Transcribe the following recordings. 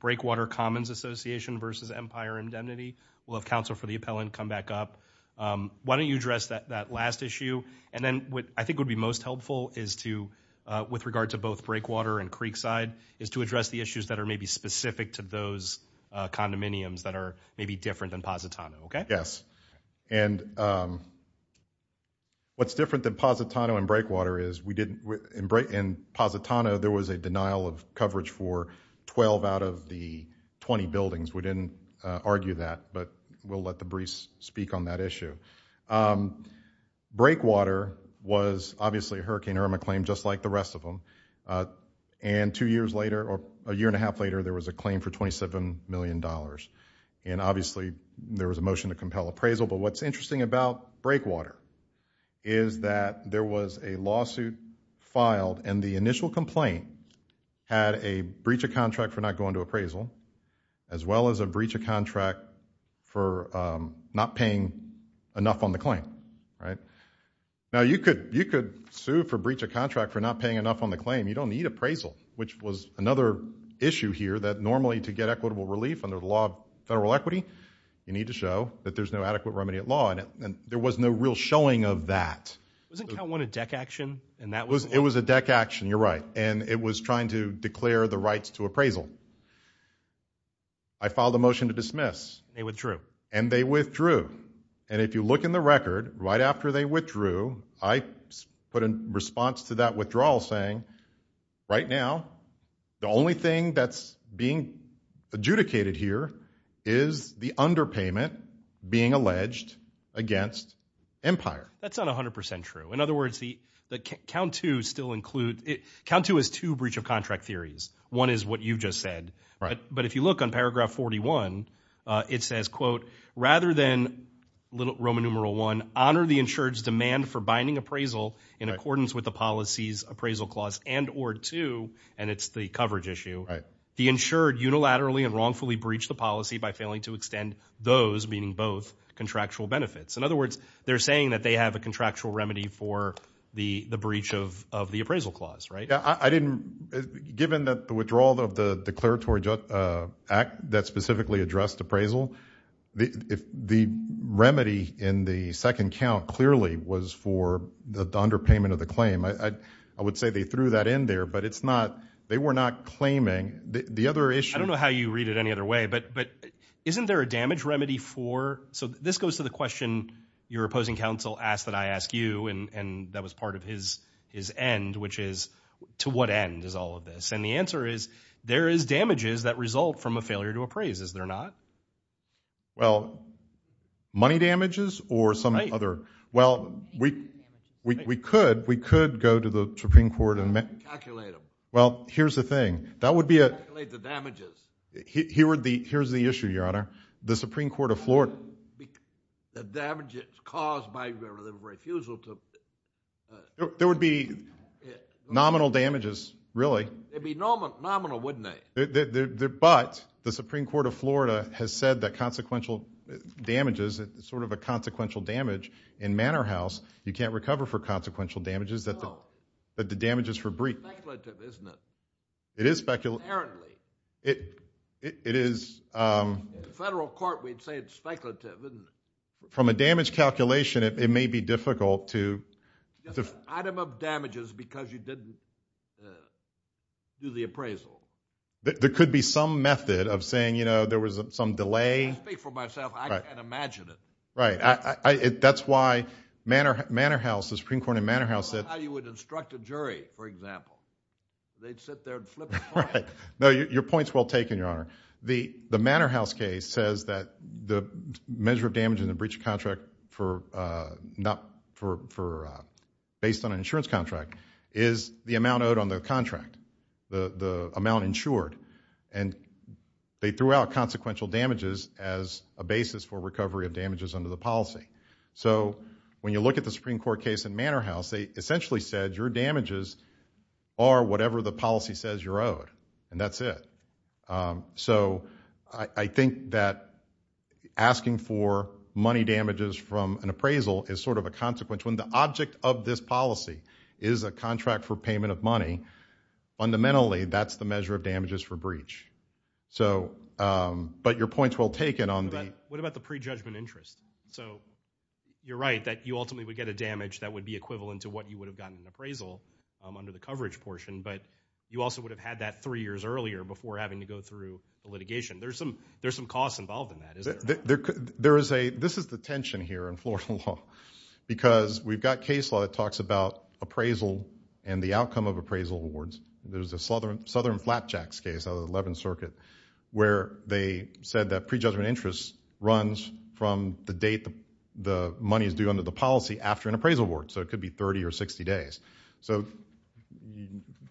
Breakwater Commons Association v. Empire Indemnity. We'll have counsel for the appellant come back up. Why don't you address that that last issue and then what I think would be most helpful is to, with regard to both Breakwater and Creekside, is to address the issues that are maybe specific to those condominiums that are maybe different than Positano, okay? Yes, and what's different than Positano and Breakwater is we didn't, in Positano there was a 12 out of the 20 buildings. We didn't argue that but we'll let the briefs speak on that issue. Breakwater was obviously a Hurricane Irma claim just like the rest of them and two years later or a year and a half later there was a claim for 27 million dollars and obviously there was a motion to compel appraisal but what's interesting about Breakwater is that there was a lawsuit filed and the initial complaint had a breach of contract for not going to appraisal as well as a breach of contract for not paying enough on the claim, right? Now you could you could sue for breach of contract for not paying enough on the claim. You don't need appraisal which was another issue here that normally to get equitable relief under the law of federal equity you need to show that there's no adequate remedy at law and there was no real showing of that. Wasn't count one a deck action? It was a deck action, you're right, and it was trying to declare the rights to appraisal. I filed a motion to dismiss. They withdrew. And they withdrew and if you look in the record right after they withdrew I put in response to that withdrawal saying right now the only thing that's being adjudicated here is the underpayment being alleged against Empire. That's not a hundred percent true. In other words, the count two still include, count two is two breach of contract theories. One is what you just said, right? But if you look on paragraph 41 it says, quote, rather than little Roman numeral one, honor the insured's demand for binding appraisal in accordance with the policies appraisal clause and or two, and it's the coverage issue, the insured unilaterally and wrongfully breached the policy by to extend those, meaning both, contractual benefits. In other words, they're saying that they have a contractual remedy for the the breach of the appraisal clause, right? I didn't, given that the withdrawal of the declaratory act that specifically addressed appraisal, the remedy in the second count clearly was for the underpayment of the claim. I would say they threw that in there but it's not, they were not claiming. The other issue, I don't know how you read it any other way, but but isn't there a damage remedy for, so this goes to the question your opposing counsel asked that I asked you and and that was part of his his end, which is, to what end is all of this? And the answer is, there is damages that result from a failure to appraise, is there not? Well, money damages or some other, well we we could, we could go to the Supreme Court and, well, here's the thing, that would be a, here were the, here's the issue, your honor, the Supreme Court of Florida, the damages caused by the refusal to, there would be nominal damages, really, it'd be nominal wouldn't they? But the Supreme Court of Florida has said that consequential damages, sort of a consequential damage in Manor House, you can't recover for the damages for breach. It is speculative, it is, from a damage calculation it may be difficult to, item of damages because you didn't do the appraisal. There could be some method of saying, you know, there was some delay. I speak for myself, I can't imagine it. Right, that's why Manor House, the Supreme Court in Manor House said, how you would instruct a jury, for example, they'd sit there and flip a coin. Right, no, your point's well taken, your honor. The the Manor House case says that the measure of damage in the breach of contract for, not for, based on an insurance contract, is the amount owed on the contract, the the amount insured, and they threw out consequential damages as a basis for recovery of damages under the policy. So when you look at the policy, it essentially said your damages are whatever the policy says you're owed, and that's it. So I think that asking for money damages from an appraisal is sort of a consequence. When the object of this policy is a contract for payment of money, fundamentally that's the measure of damages for breach. So, but your point's well taken on that. What about the pre-judgment interest? So you're right that you ultimately would get a damage that would be equivalent to what you would have gotten an appraisal under the coverage portion, but you also would have had that three years earlier before having to go through litigation. There's some there's some costs involved in that, isn't there? There is a, this is the tension here in Florida law, because we've got case law that talks about appraisal and the outcome of appraisal awards. There's a Southern Southern Flapjacks case out of the 11th Circuit where they said that pre-judgment interest runs from the date the money is due under the policy after an appraisal award. So it could be 30 or 60 days. So,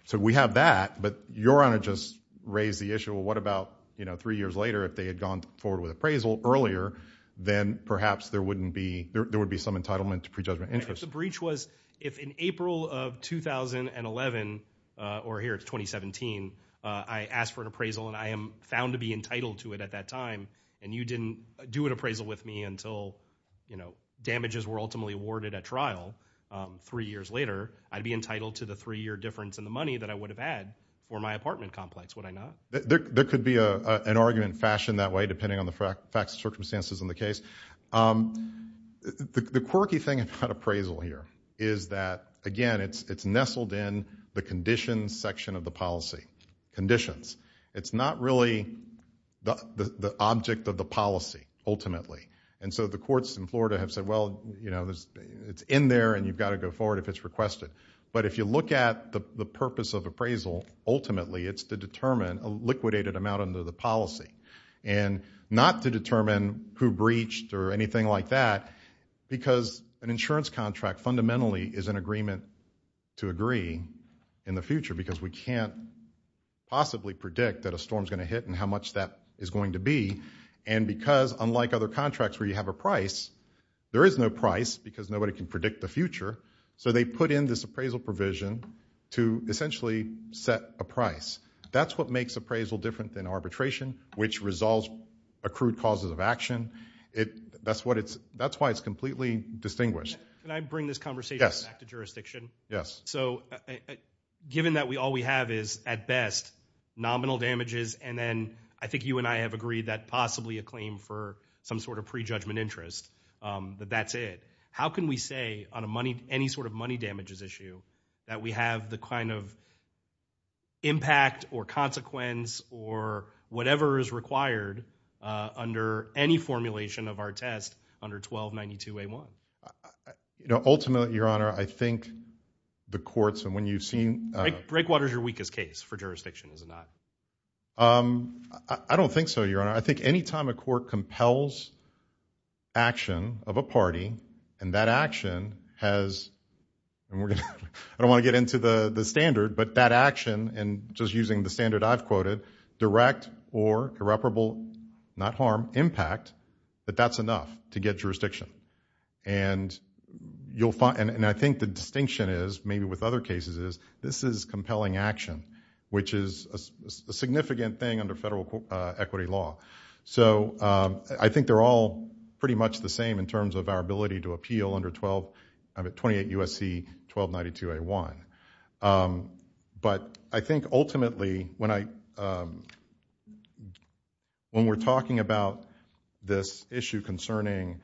so we have that, but your Honor just raised the issue of what about, you know, three years later if they had gone forward with appraisal earlier, then perhaps there wouldn't be, there would be some entitlement to pre-judgment interest. If the breach was, if in April of 2011, or here it's 2017, I asked for an appraisal and I am found to be entitled to it at that time, and you didn't do an appraisal with me until, you know, I was ultimately awarded at trial three years later, I'd be entitled to the three-year difference in the money that I would have had for my apartment complex, would I not? There could be a, an argument fashioned that way, depending on the facts, circumstances in the case. The quirky thing about appraisal here is that, again, it's, it's nestled in the conditions section of the policy. Conditions. It's not really the, the object of the policy, ultimately. And so the courts in Florida have said, well, you know, there's, it's in there and you've got to go forward if it's requested. But if you look at the, the purpose of appraisal, ultimately it's to determine a liquidated amount under the policy. And not to determine who breached or anything like that, because an insurance contract fundamentally is an agreement to agree in the future, because we can't possibly predict that a storm is going to hit and how much that is going to be. And because, unlike other contracts where you have a price, there is no price because nobody can predict the future. So they put in this appraisal provision to essentially set a price. That's what makes appraisal different than arbitration, which resolves accrued causes of action. It, that's what it's, that's why it's completely distinguished. Can I bring this conversation back to jurisdiction? Yes. So, given that we, all we have is, at best, nominal damages and then I think you and I have agreed that possibly a claim for some sort of prejudgment interest, that that's it. How can we say on a money, any sort of money damages issue, that we have the kind of impact or consequence or whatever is required under any formulation of our test under 1292A1? You know, ultimately Your Honor, I think the courts and when you've seen... Breakwater's your weakest case for jurisdiction, is it not? I don't think so, Your Honor. I think any time a court compels action of a party and that action has, and we're gonna, I don't want to get into the the standard, but that action, and just using the standard I've quoted, direct or irreparable, not harm, impact, that that's enough to get jurisdiction. And you'll find, and I think the distinction is, maybe with other cases is, this is compelling action, which is a significant thing under federal equity law. So, I think they're all pretty much the same in terms of our ability to appeal under 12, I'm at 28 U.S.C. 1292A1. But I think ultimately, when I, when we're talking about this issue concerning,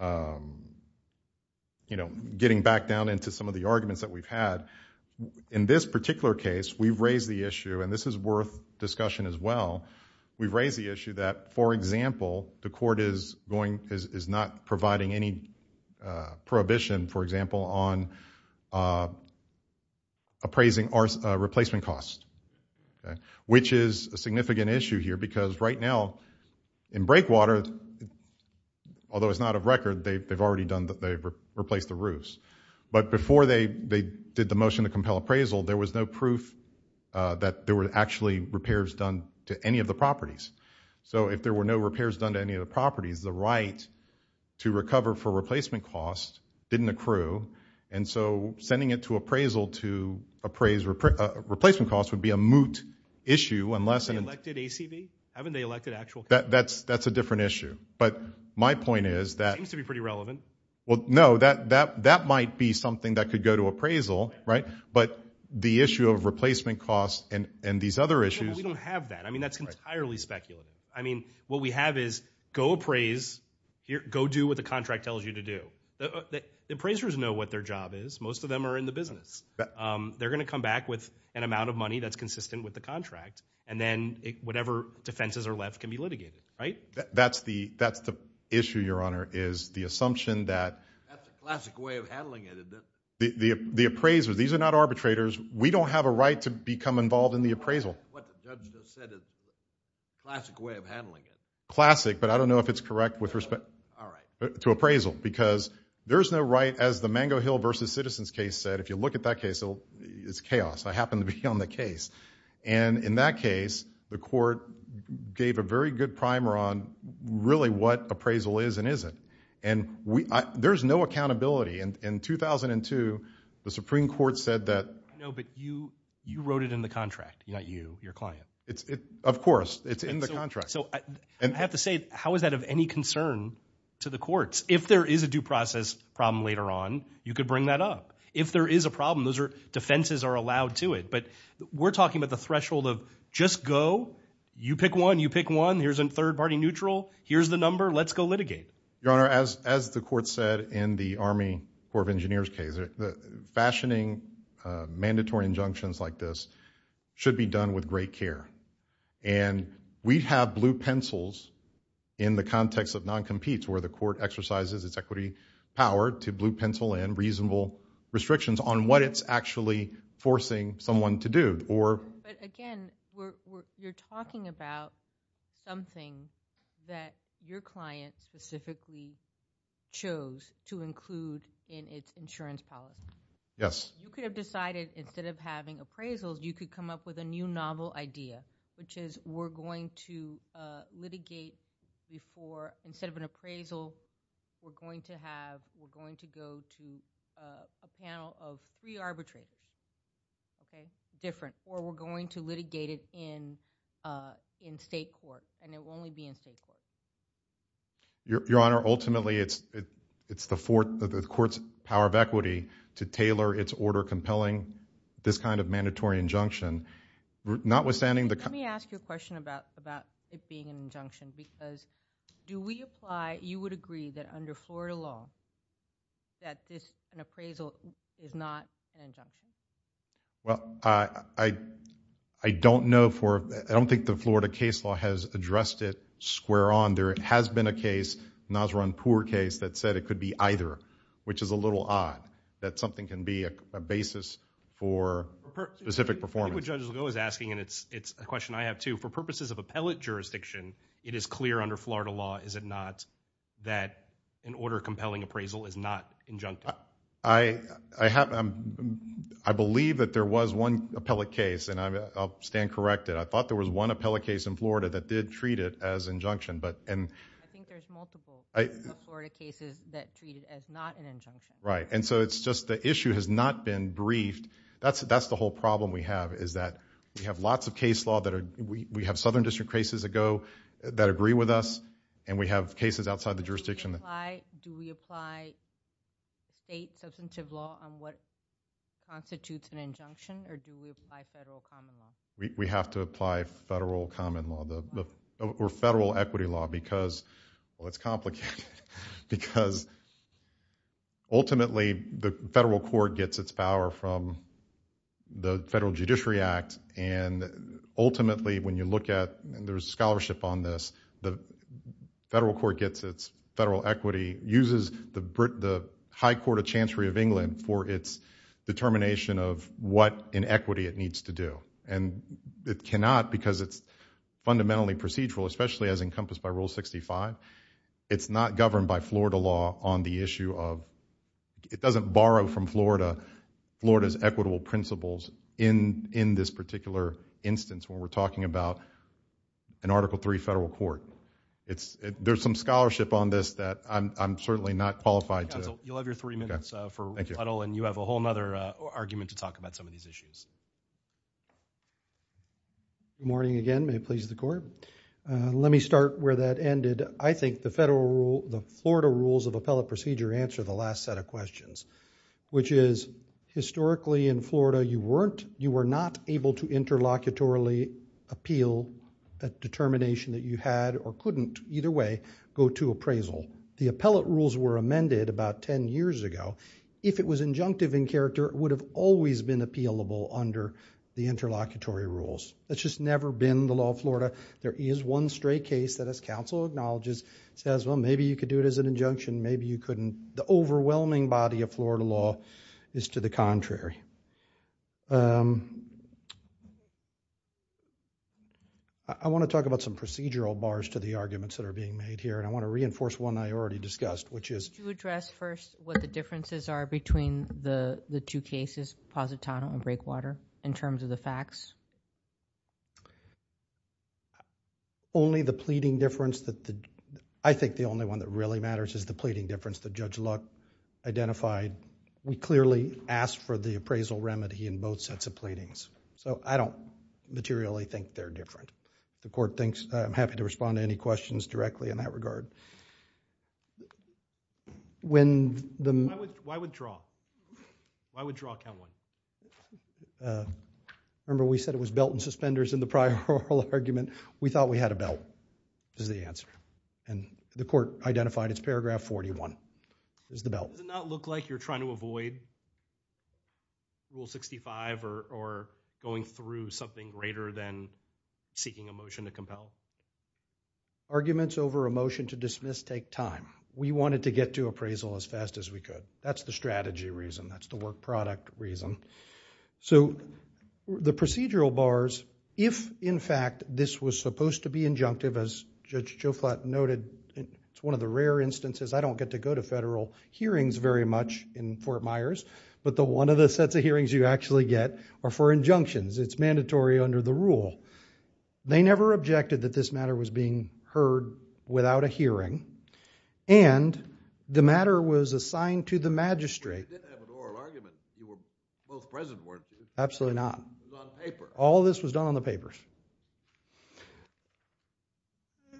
you know, getting back down into some of the arguments that we've had, in this particular case, we've raised the issue, and this is worth discussion as well, we've raised the issue that, for example, the court is going, is not providing any prohibition, for example, on appraising our replacement costs, which is a significant issue here, because right now, in Breakwater, although it's not a record, they've replaced the roofs. But before they did the motion to compel appraisal, there was no proof that there were actually repairs done to any of the properties. So if there were no repairs done to any of the properties, the right to recover for replacement costs didn't accrue, and so sending it to appraisal to appraise replacement costs would be a moot issue, unless an elected ACB, haven't they elected actual, that's that's a different issue. But my point is that, seems to be that might be something that could go to appraisal, right, but the issue of replacement costs and and these other issues. We don't have that, I mean that's entirely speculative. I mean, what we have is, go appraise, go do what the contract tells you to do. The appraisers know what their job is, most of them are in the business. They're gonna come back with an amount of money that's consistent with the contract, and then whatever defenses are left can be litigated, right? That's the issue, your honor, is the assumption that the appraisers, these are not arbitrators, we don't have a right to become involved in the appraisal. Classic, but I don't know if it's correct with respect to appraisal, because there's no right, as the Mango Hill versus Citizens case said, if you look at that case, it's chaos. I happen to be on the case, and in that case, the court gave a very good primer on really what appraisal is and isn't, and there's no accountability. In 2002, the Supreme Court said that... No, but you wrote it in the contract, not you, your client. Of course, it's in the contract. So I have to say, how is that of any concern to the courts? If there is a due process problem later on, you could bring that up. If there is a problem, those defenses are allowed to it, but we're talking about the threshold of, just go, you pick one, you pick one, here's a third-party neutral, here's the number, let's go litigate. Your Honor, as the court said in the Army Corps of Engineers case, the fashioning mandatory injunctions like this should be done with great care, and we have blue pencils in the context of non-competes, where the court exercises its equity power to blue pencil in reasonable restrictions on what it's actually forcing someone to do, or... But again, you're talking about something that your client specifically chose to include in its insurance policy. Yes. You could have decided, instead of having appraisals, you could come up with a new novel idea, which is, we're going to litigate before, instead of an appraisal, we're going to have, we're going to go to a panel of three arbitrators, okay, different, or we're going to litigate it in, in state court, and it will only be in state court. Your Honor, ultimately, it's, it's the fourth, the court's power of equity to tailor its order compelling this kind of mandatory injunction, notwithstanding the... Let me ask you a question about, about it being an injunction, because do we apply, you would agree that under Florida law, that this, an appraisal, is not an injunction? Well, I, I don't know for, I don't think the Florida case law has addressed it square on. There has been a case, Nasr-Anpur case, that said it could be either, which is a little odd, that something can be a basis for specific performance. I think what Judge Legault is asking, and it's, it's a question I have too, for purposes of appellate jurisdiction, it is clear under Florida law, is it not, that an order compelling appraisal is not injuncted? I, I have, I believe that there was one appellate case, and I'll stand corrected. I thought there was one appellate case in Florida that did treat it as injunction, but, and... I think there's multiple cases of Florida cases that treat it as not an injunction. Right, and so it's just, the issue has not been briefed. That's, that's the whole problem we have, is that we have lots of case law that are, we have Southern District cases that go, that agree with us, and we have cases outside the state. Do we apply state substantive law on what constitutes an injunction, or do we apply federal common law? We, we have to apply federal common law, the, the, or federal equity law, because, well, it's complicated, because ultimately, the federal court gets its power from the Federal Judiciary Act, and ultimately, when you look at, and there's scholarship on this, the federal court gets its federal equity, uses the Brit, the High Court of Chancery of England for its determination of what inequity it needs to do, and it cannot, because it's fundamentally procedural, especially as encompassed by Rule 65, it's not governed by Florida law on the issue of, it doesn't borrow from Florida, Florida's equitable principles in, in this particular instance, when we're talking about an Article III federal court. It's, there's some scholarship on this that I'm, I'm certainly not qualified to... Counsel, you'll have your three minutes... Okay.... for Ruddle, and you have a whole other argument to talk about some of these issues. Good morning again, may it please the Court. Let me start where that ended. I think the federal rule, the Florida Rules of Appellate Procedure answer the last set of questions, which is, historically in Florida, you weren't, you were not able to appeal a determination that you had, or couldn't, either way, go to appraisal. The appellate rules were amended about ten years ago. If it was injunctive in character, it would have always been appealable under the interlocutory rules. It's just never been the law of Florida. There is one stray case that, as counsel acknowledges, says, well, maybe you could do it as an injunction, maybe you could do it contrary. I want to talk about some procedural bars to the arguments that are being made here, and I want to reinforce one I already discussed, which is... Could you address first what the differences are between the two cases, Positano and Breakwater, in terms of the facts? Only the pleading difference that the... I think the only one that really matters is the pleading difference that Judge Luck identified. We clearly asked for the appraisal remedy in both sets of pleadings, so I don't materially think they're different. The Court thinks... I'm happy to respond to any questions directly in that regard. When the... Why would draw? Why would draw count one? Remember, we said it was belt and suspenders in the prior oral argument. We thought we had a belt, is the answer. The Court identified it's paragraph 41, is the belt. Does it not look like you're trying to avoid Rule 65 or going through something greater than seeking a motion to compel? Arguments over a motion to dismiss take time. We wanted to get to appraisal as fast as we could. That's the strategy reason. That's the work product reason. The procedural bars, if in fact this was supposed to be injunctive, as Judge Joflat noted, it's one of the rare instances... I don't get to go to federal hearings very much in Fort Myers, but the one of the sets of hearings you actually get are for injunctions. It's mandatory under the rule. They never objected that this matter was being heard without a hearing, and the matter was assigned to the magistrate. You did have an oral argument. You were both present weren't you? Absolutely not. It was on paper. All this was done on the papers.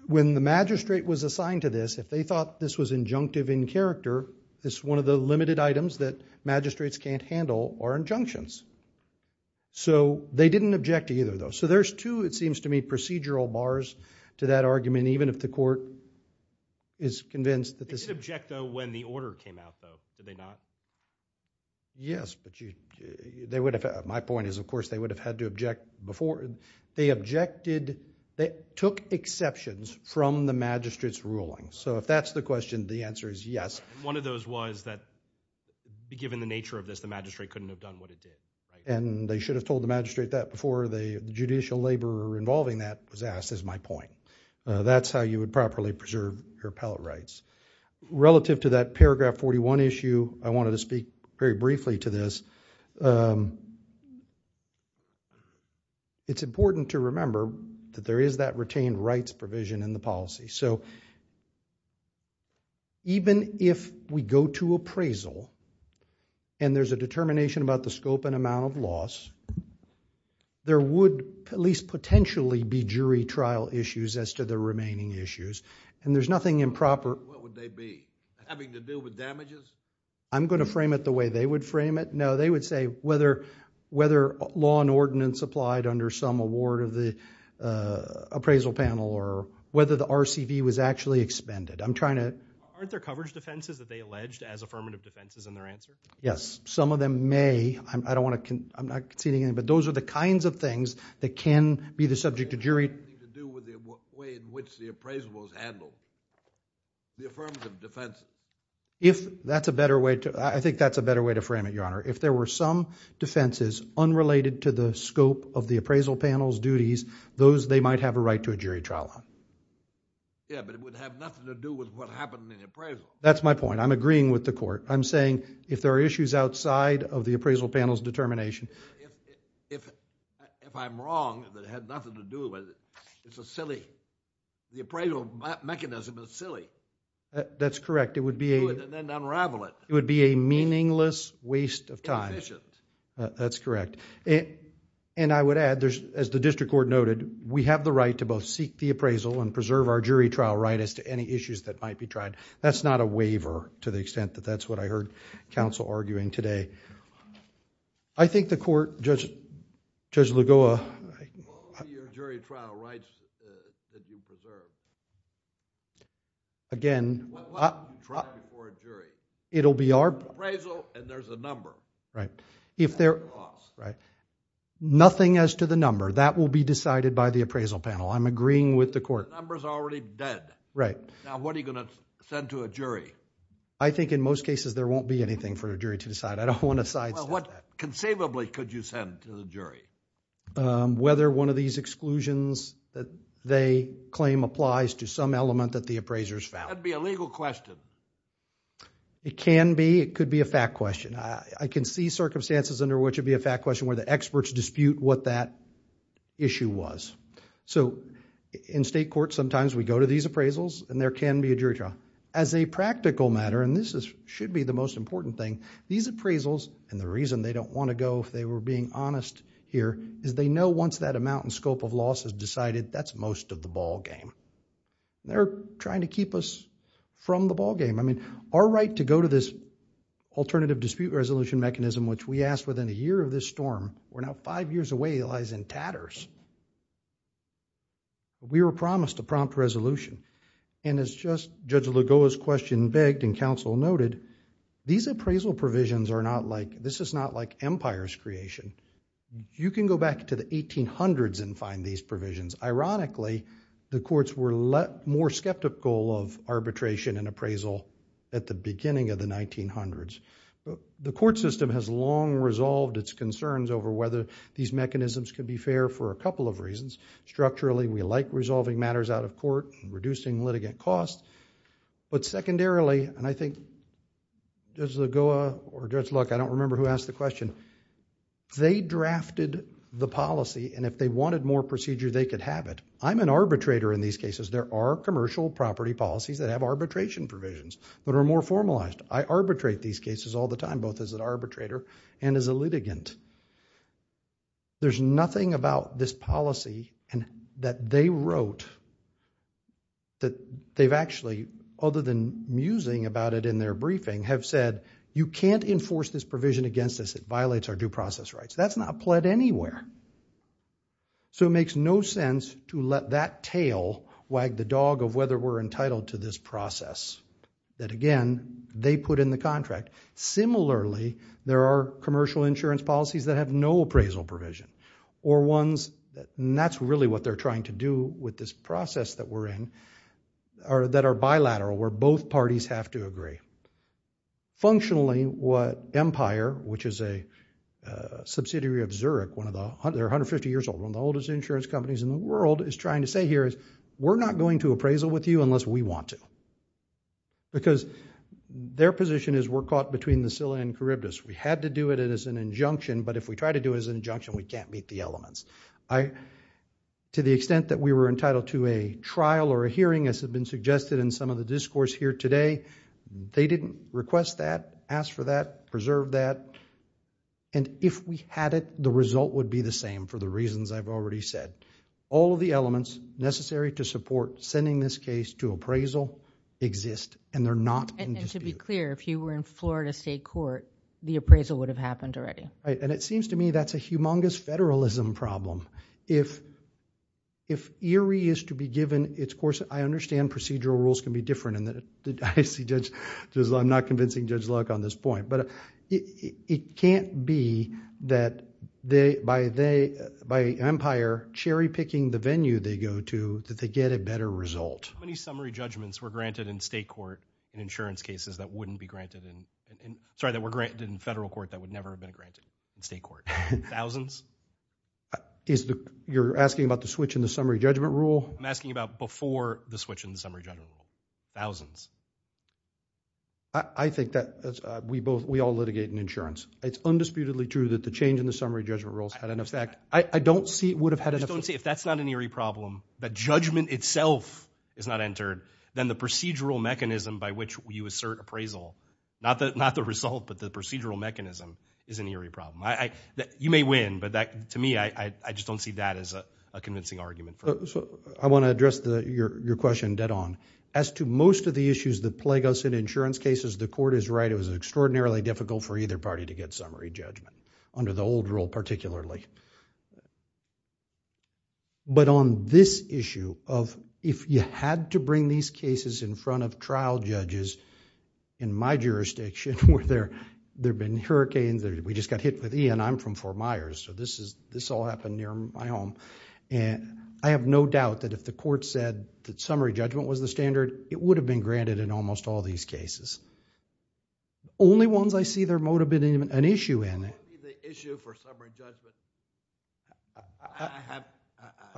When the magistrate was assigned to this, if they thought this was injunctive in character, this is one of the limited items that magistrates can't handle are injunctions. They didn't object to either of those. There's two, it seems to me, procedural bars to that argument, even if the Court is convinced that this... They didn't object though when the order came out though, did they not? Yes, but they would have... my point is of course they would have had to object before... they objected... they took exceptions from the magistrate's ruling. If that's the question, the answer is yes. One of those was that given the nature of this, the magistrate couldn't have done what it did. They should have told the magistrate that before the judicial laborer involving that was asked is my point. That's how you would properly preserve your appellate rights. Relative to that paragraph 41 issue, I wanted to speak very briefly to this. It's important to remember that there is that retained rights provision in the policy. Even if we go to appraisal and there's a determination about the scope and amount of loss, there would at least nothing improper... What would they be? Having to do with damages? I'm going to frame it the way they would frame it. No, they would say whether law and ordinance applied under some award of the appraisal panel or whether the RCV was actually expended. I'm trying to... Aren't there coverage defenses that they alleged as affirmative defenses in their answer? Yes, some of them may. I don't want to... I'm not conceding anything, but those are the kinds of things that can be the subject of jury... Anything to do with the way in which the appraisal was handled, the affirmative defenses? I think that's a better way to frame it, Your Honor. If there were some defenses unrelated to the scope of the appraisal panel's duties, they might have a right to a jury trial. Yes, but it would have nothing to do with what happened in the appraisal. That's my point. I'm agreeing with the court. I'm saying if there are issues outside of the appraisal panel's determination... If I'm wrong that it had nothing to do with... it's a silly... the appraisal mechanism is silly. That's correct. It would be a... Do it and then unravel it. It would be a meaningless waste of time. Inefficient. That's correct. I would add, as the district court noted, we have the right to both seek the appraisal and preserve our jury trial right as to any issues that might be tried. That's not a waiver to the extent that that's what I was also arguing today. I think the court... Judge Lagoa... What would be your jury trial rights to be preserved? Again... What would you try before a jury? It'll be our... Appraisal and there's a number. Right. If there... That's the cost. Right. Nothing as to the number. That will be decided by the appraisal panel. I'm agreeing with the court. The number's already dead. Right. Now, what are you going to send to a jury? I think in most cases there won't be anything for a jury to decide. I don't want to sidestep that. Well, what conceivably could you send to the jury? Whether one of these exclusions that they claim applies to some element that the appraiser's found. That'd be a legal question. It can be. It could be a fact question. I can see circumstances under which it'd be a fact question where the experts dispute what that issue was. In state court, sometimes we go to these appraisals and there can be a jury trial. As a practical matter, and this should be the most important thing, these appraisals, and the reason they don't want to go if they were being honest here, is they know once that amount and scope of loss is decided, that's most of the ballgame. They're trying to keep us from the ballgame. I mean, our right to go to this alternative dispute resolution mechanism which we asked within a year of this storm, we're now five years away, lies in tatters. We were promised a prompt resolution. As Judge Lugoa's question begged and counsel noted, these appraisal provisions are not like, this is not like empire's creation. You can go back to the 1800s and find these provisions. Ironically, the courts were more skeptical of arbitration and appraisal at the beginning of the 1900s. The court system has long resolved its concerns over whether these mechanisms could be fair for a couple of reasons. Structurally, we like resolving matters out of court, reducing litigant costs, but secondarily, and I think Judge Lugoa or Judge Luck, I don't remember who asked the question, they drafted the policy and if they wanted more procedure, they could have it. I'm an arbitrator in these cases. There are commercial property policies that have arbitration provisions that are more formalized. I arbitrate these cases all the time, both as an arbitrator and as a litigant. There's nothing about this policy that they wrote that they've actually, other than musing about it in their briefing, have said, you can't enforce this provision against us. It violates our due process rights. That's not pled anywhere. So it makes no sense to let that tail wag the dog of whether we're entitled to this process that, again, they put in the contract. Similarly, there are commercial insurance policies that have no appraisal provision or ones, and that's really what they're trying to do with this process that we're in, that are bilateral, where both parties have to agree. Functionally, Empire, which is a subsidiary of Zurich, they're 150 years old, one of the oldest insurance companies in the world, is trying to say here, we're not going to appraisal with you unless we want to because their position is we're caught between the Silla and Charybdis. We had to do it as an injunction, but if we try to do it as an injunction, we can't meet the elements. To the extent that we were entitled to a trial or a hearing, as has been suggested in some of the discourse here today, they didn't request that, ask for that, preserve that, and if we had it, the result would be the same for the reasons I've already said. All of the elements necessary to support sending this case to appraisal exist, and they're not in dispute. And to be clear, if you were in Florida State Court, the appraisal would have happened already. Right, and it seems to me that's a humongous federalism problem. If eerie is to be given its course, I understand procedural rules can be different. I see Judge... I'm not convincing Judge Luck on this point, but it can't be that by Empire cherry-picking the venue they go to, that they get a better result. How many summary judgments were granted in federal court that would never have been granted in state court? Thousands? You're asking about the switch in the summary judgment rule? I'm asking about before the switch in the summary judgment rule. Thousands. I think that we all litigate in insurance. It's undisputedly true that the change in the summary judgment rules had an effect. I don't see it would have had an effect. If that's not an eerie problem, that judgment itself is not entered, then the procedural mechanism by which you assert appraisal, not the result, but the procedural mechanism, is an eerie problem. You may win, but to me, I just don't see that as a convincing argument. I want to address your question dead on. As to most of the issues that plague us in insurance cases, the court is right. It was extraordinarily difficult for either party to get summary judgment, under the old rule particularly. But on this issue of if you had to bring these cases in front of trial judges, in my jurisdiction where there have been hurricanes, we just got hit with Ian, I'm from Fort Myers, so this all happened near my home. I have no doubt that if the court said that summary judgment was the standard, it would have been granted in almost all these cases. Only ones I see there might have been an issue in it. What would be the issue for summary judgment?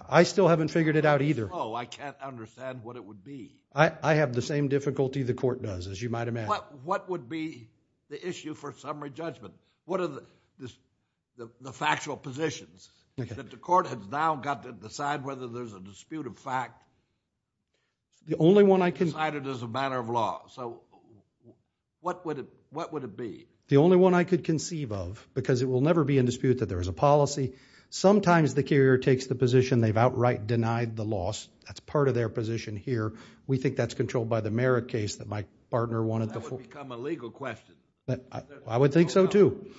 I still haven't figured it out either. Oh, I can't understand what it would be. I have the same difficulty the court does, as you might imagine. What would be the issue for summary judgment? What are the factual positions that the court has now got to decide whether there's a dispute of fact decided as a matter of law? So what would it be? The only one I could conceive of, because it will never be in dispute that there is a policy. Sometimes the carrier takes the position they've outright denied the loss. That's part of their position here. We think that's controlled by the Merritt case that my partner wanted to— That would become a legal question. I would think so, too.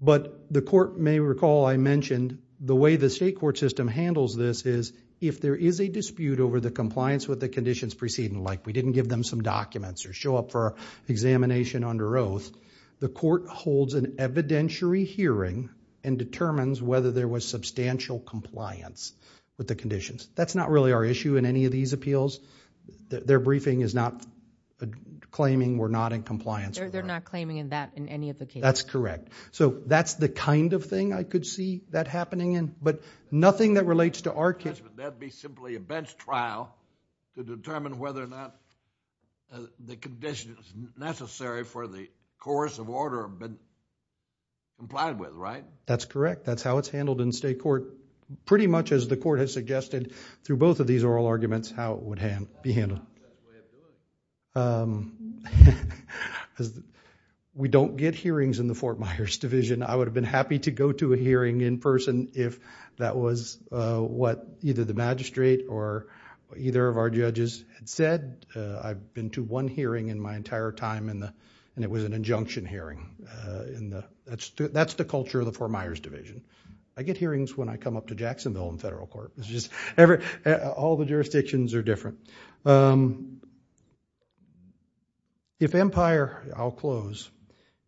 But the court may recall I mentioned the way the state court system handles this is if there is a dispute over the compliance with the conditions preceding, like we didn't give them some documents or show up for examination under oath, the court holds an evidentiary hearing and determines whether there was substantial compliance with the conditions. That's not really our issue in any of these appeals. Their briefing is not claiming we're not in compliance. They're not claiming that in any of the cases. That's correct. So that's the kind of thing I could see that happening, but nothing that relates to our case. But that would be simply a bench trial to determine whether or not the conditions necessary for the course of order have been complied with, right? That's correct. That's how it's handled in state court, pretty much as the court has suggested through both of these oral arguments how it would be handled. We don't get hearings in the Fort Myers Division. I would have been happy to go to a hearing in person if that was what either the magistrate or either of our judges had said. I've been to one hearing in my entire time and it was an injunction hearing. That's the culture of the Fort Myers Division. I get hearings when I come up to Jacksonville in federal court. All the jurisdictions are different. If Empire, I'll close,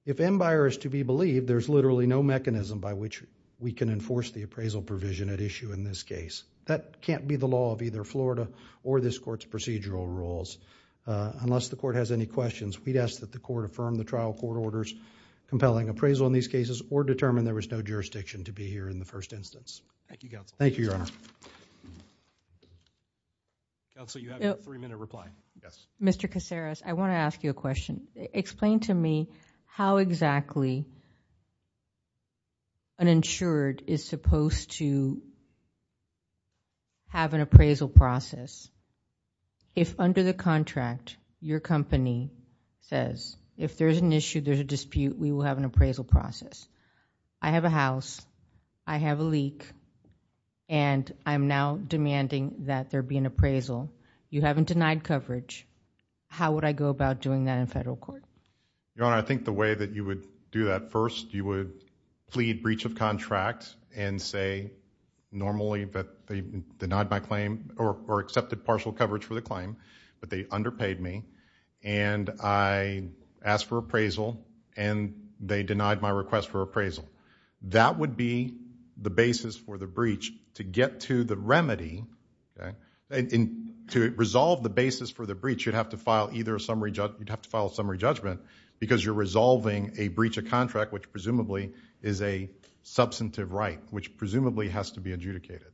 if Empire is to be believed, there's literally no mechanism by which we can enforce the appraisal provision at issue in this case. That can't be the law of either Florida or this court's procedural rules. Unless the court has any questions, we'd ask that the court affirm the trial court orders compelling appraisal in these cases or determine there was no jurisdiction to be here in the first instance. Thank you, Counsel. Thank you, Your Honor. Counsel, you have your three-minute reply. Mr. Caceres, I want to ask you a question. Explain to me how exactly an insured is supposed to have an appraisal process if under the contract your company says if there's an issue, there's a dispute, we will have an appraisal process. I have a house. I have a leak. And I'm now demanding that there be an appraisal. You haven't denied coverage. How would I go about doing that in federal court? Your Honor, I think the way that you would do that first, you would plead breach of contract and say normally that they denied my claim or accepted partial coverage for the claim, but they underpaid me. And I asked for appraisal, and they denied my request for appraisal. That would be the basis for the breach to get to the remedy. To resolve the basis for the breach, you'd have to file either a summary judgment because you're resolving a breach of contract, which presumably is a substantive right, which presumably has to be adjudicated.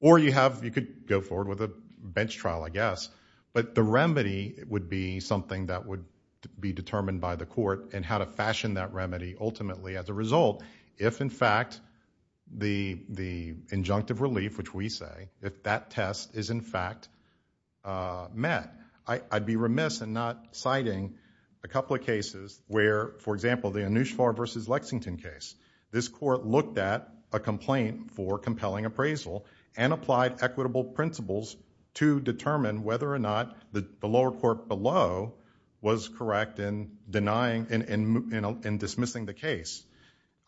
Or you could go forward with a bench trial, I guess. But the remedy would be something that would be determined by the court and how to fashion that remedy ultimately as a result if in fact the injunctive relief, which we say, if that test is in fact met. I'd be remiss in not citing a couple of cases where, for example, the Anoushvar v. Lexington case. This court looked at a complaint for compelling appraisal and applied equitable principles to determine whether or not the lower court below was correct in denying and dismissing the case.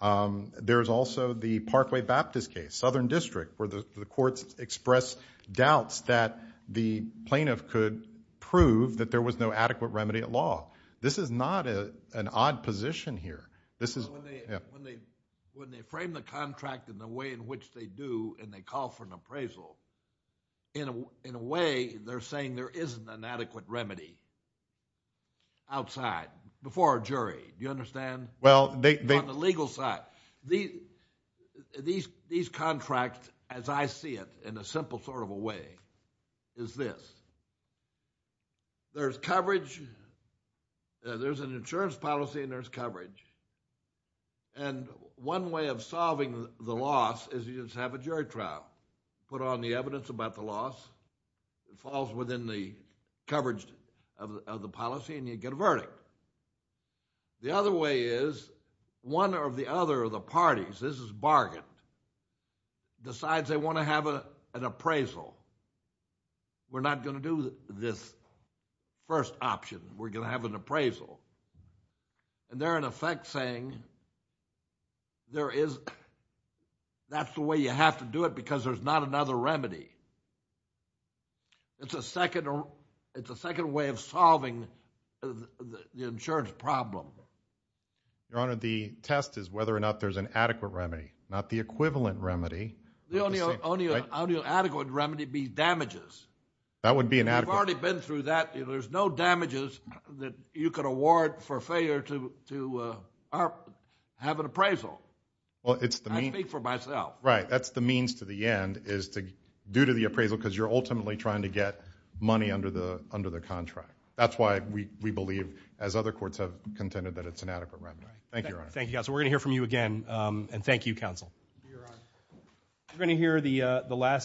There's also the Parkway Baptist case, Southern District, where the courts expressed doubts that the plaintiff could prove that there was no adequate remedy at law. This is not an odd position here. When they frame the contract in the way in which they do and they call for an appraisal, in a way they're saying there isn't an adequate remedy outside, before a jury. Do you understand? On the legal side, these contracts, as I see it in a simple sort of a way, is this. There's coverage. There's an insurance policy and there's coverage. And one way of solving the loss is you just have a jury trial. Put on the evidence about the loss. It falls within the coverage of the policy and you get a verdict. The other way is one or the other of the parties, this is bargained, decides they want to have an appraisal. We're not going to do this first option. We're going to have an appraisal. And they're, in effect, saying that's the way you have to do it because there's not another remedy. It's a second way of solving the insurance problem. Your Honor, the test is whether or not there's an adequate remedy, not the equivalent remedy. The only adequate remedy would be damages. That would be inadequate. We've already been through that. There's no damages that you could award for failure to have an appraisal. I speak for myself. Right. That's the means to the end is due to the appraisal because you're ultimately trying to get money under the contract. That's why we believe, as other courts have contended, that it's an adequate remedy. Thank you, Your Honor. Thank you, counsel. We're going to hear from you again. And thank you, counsel. Thank you, Your Honor.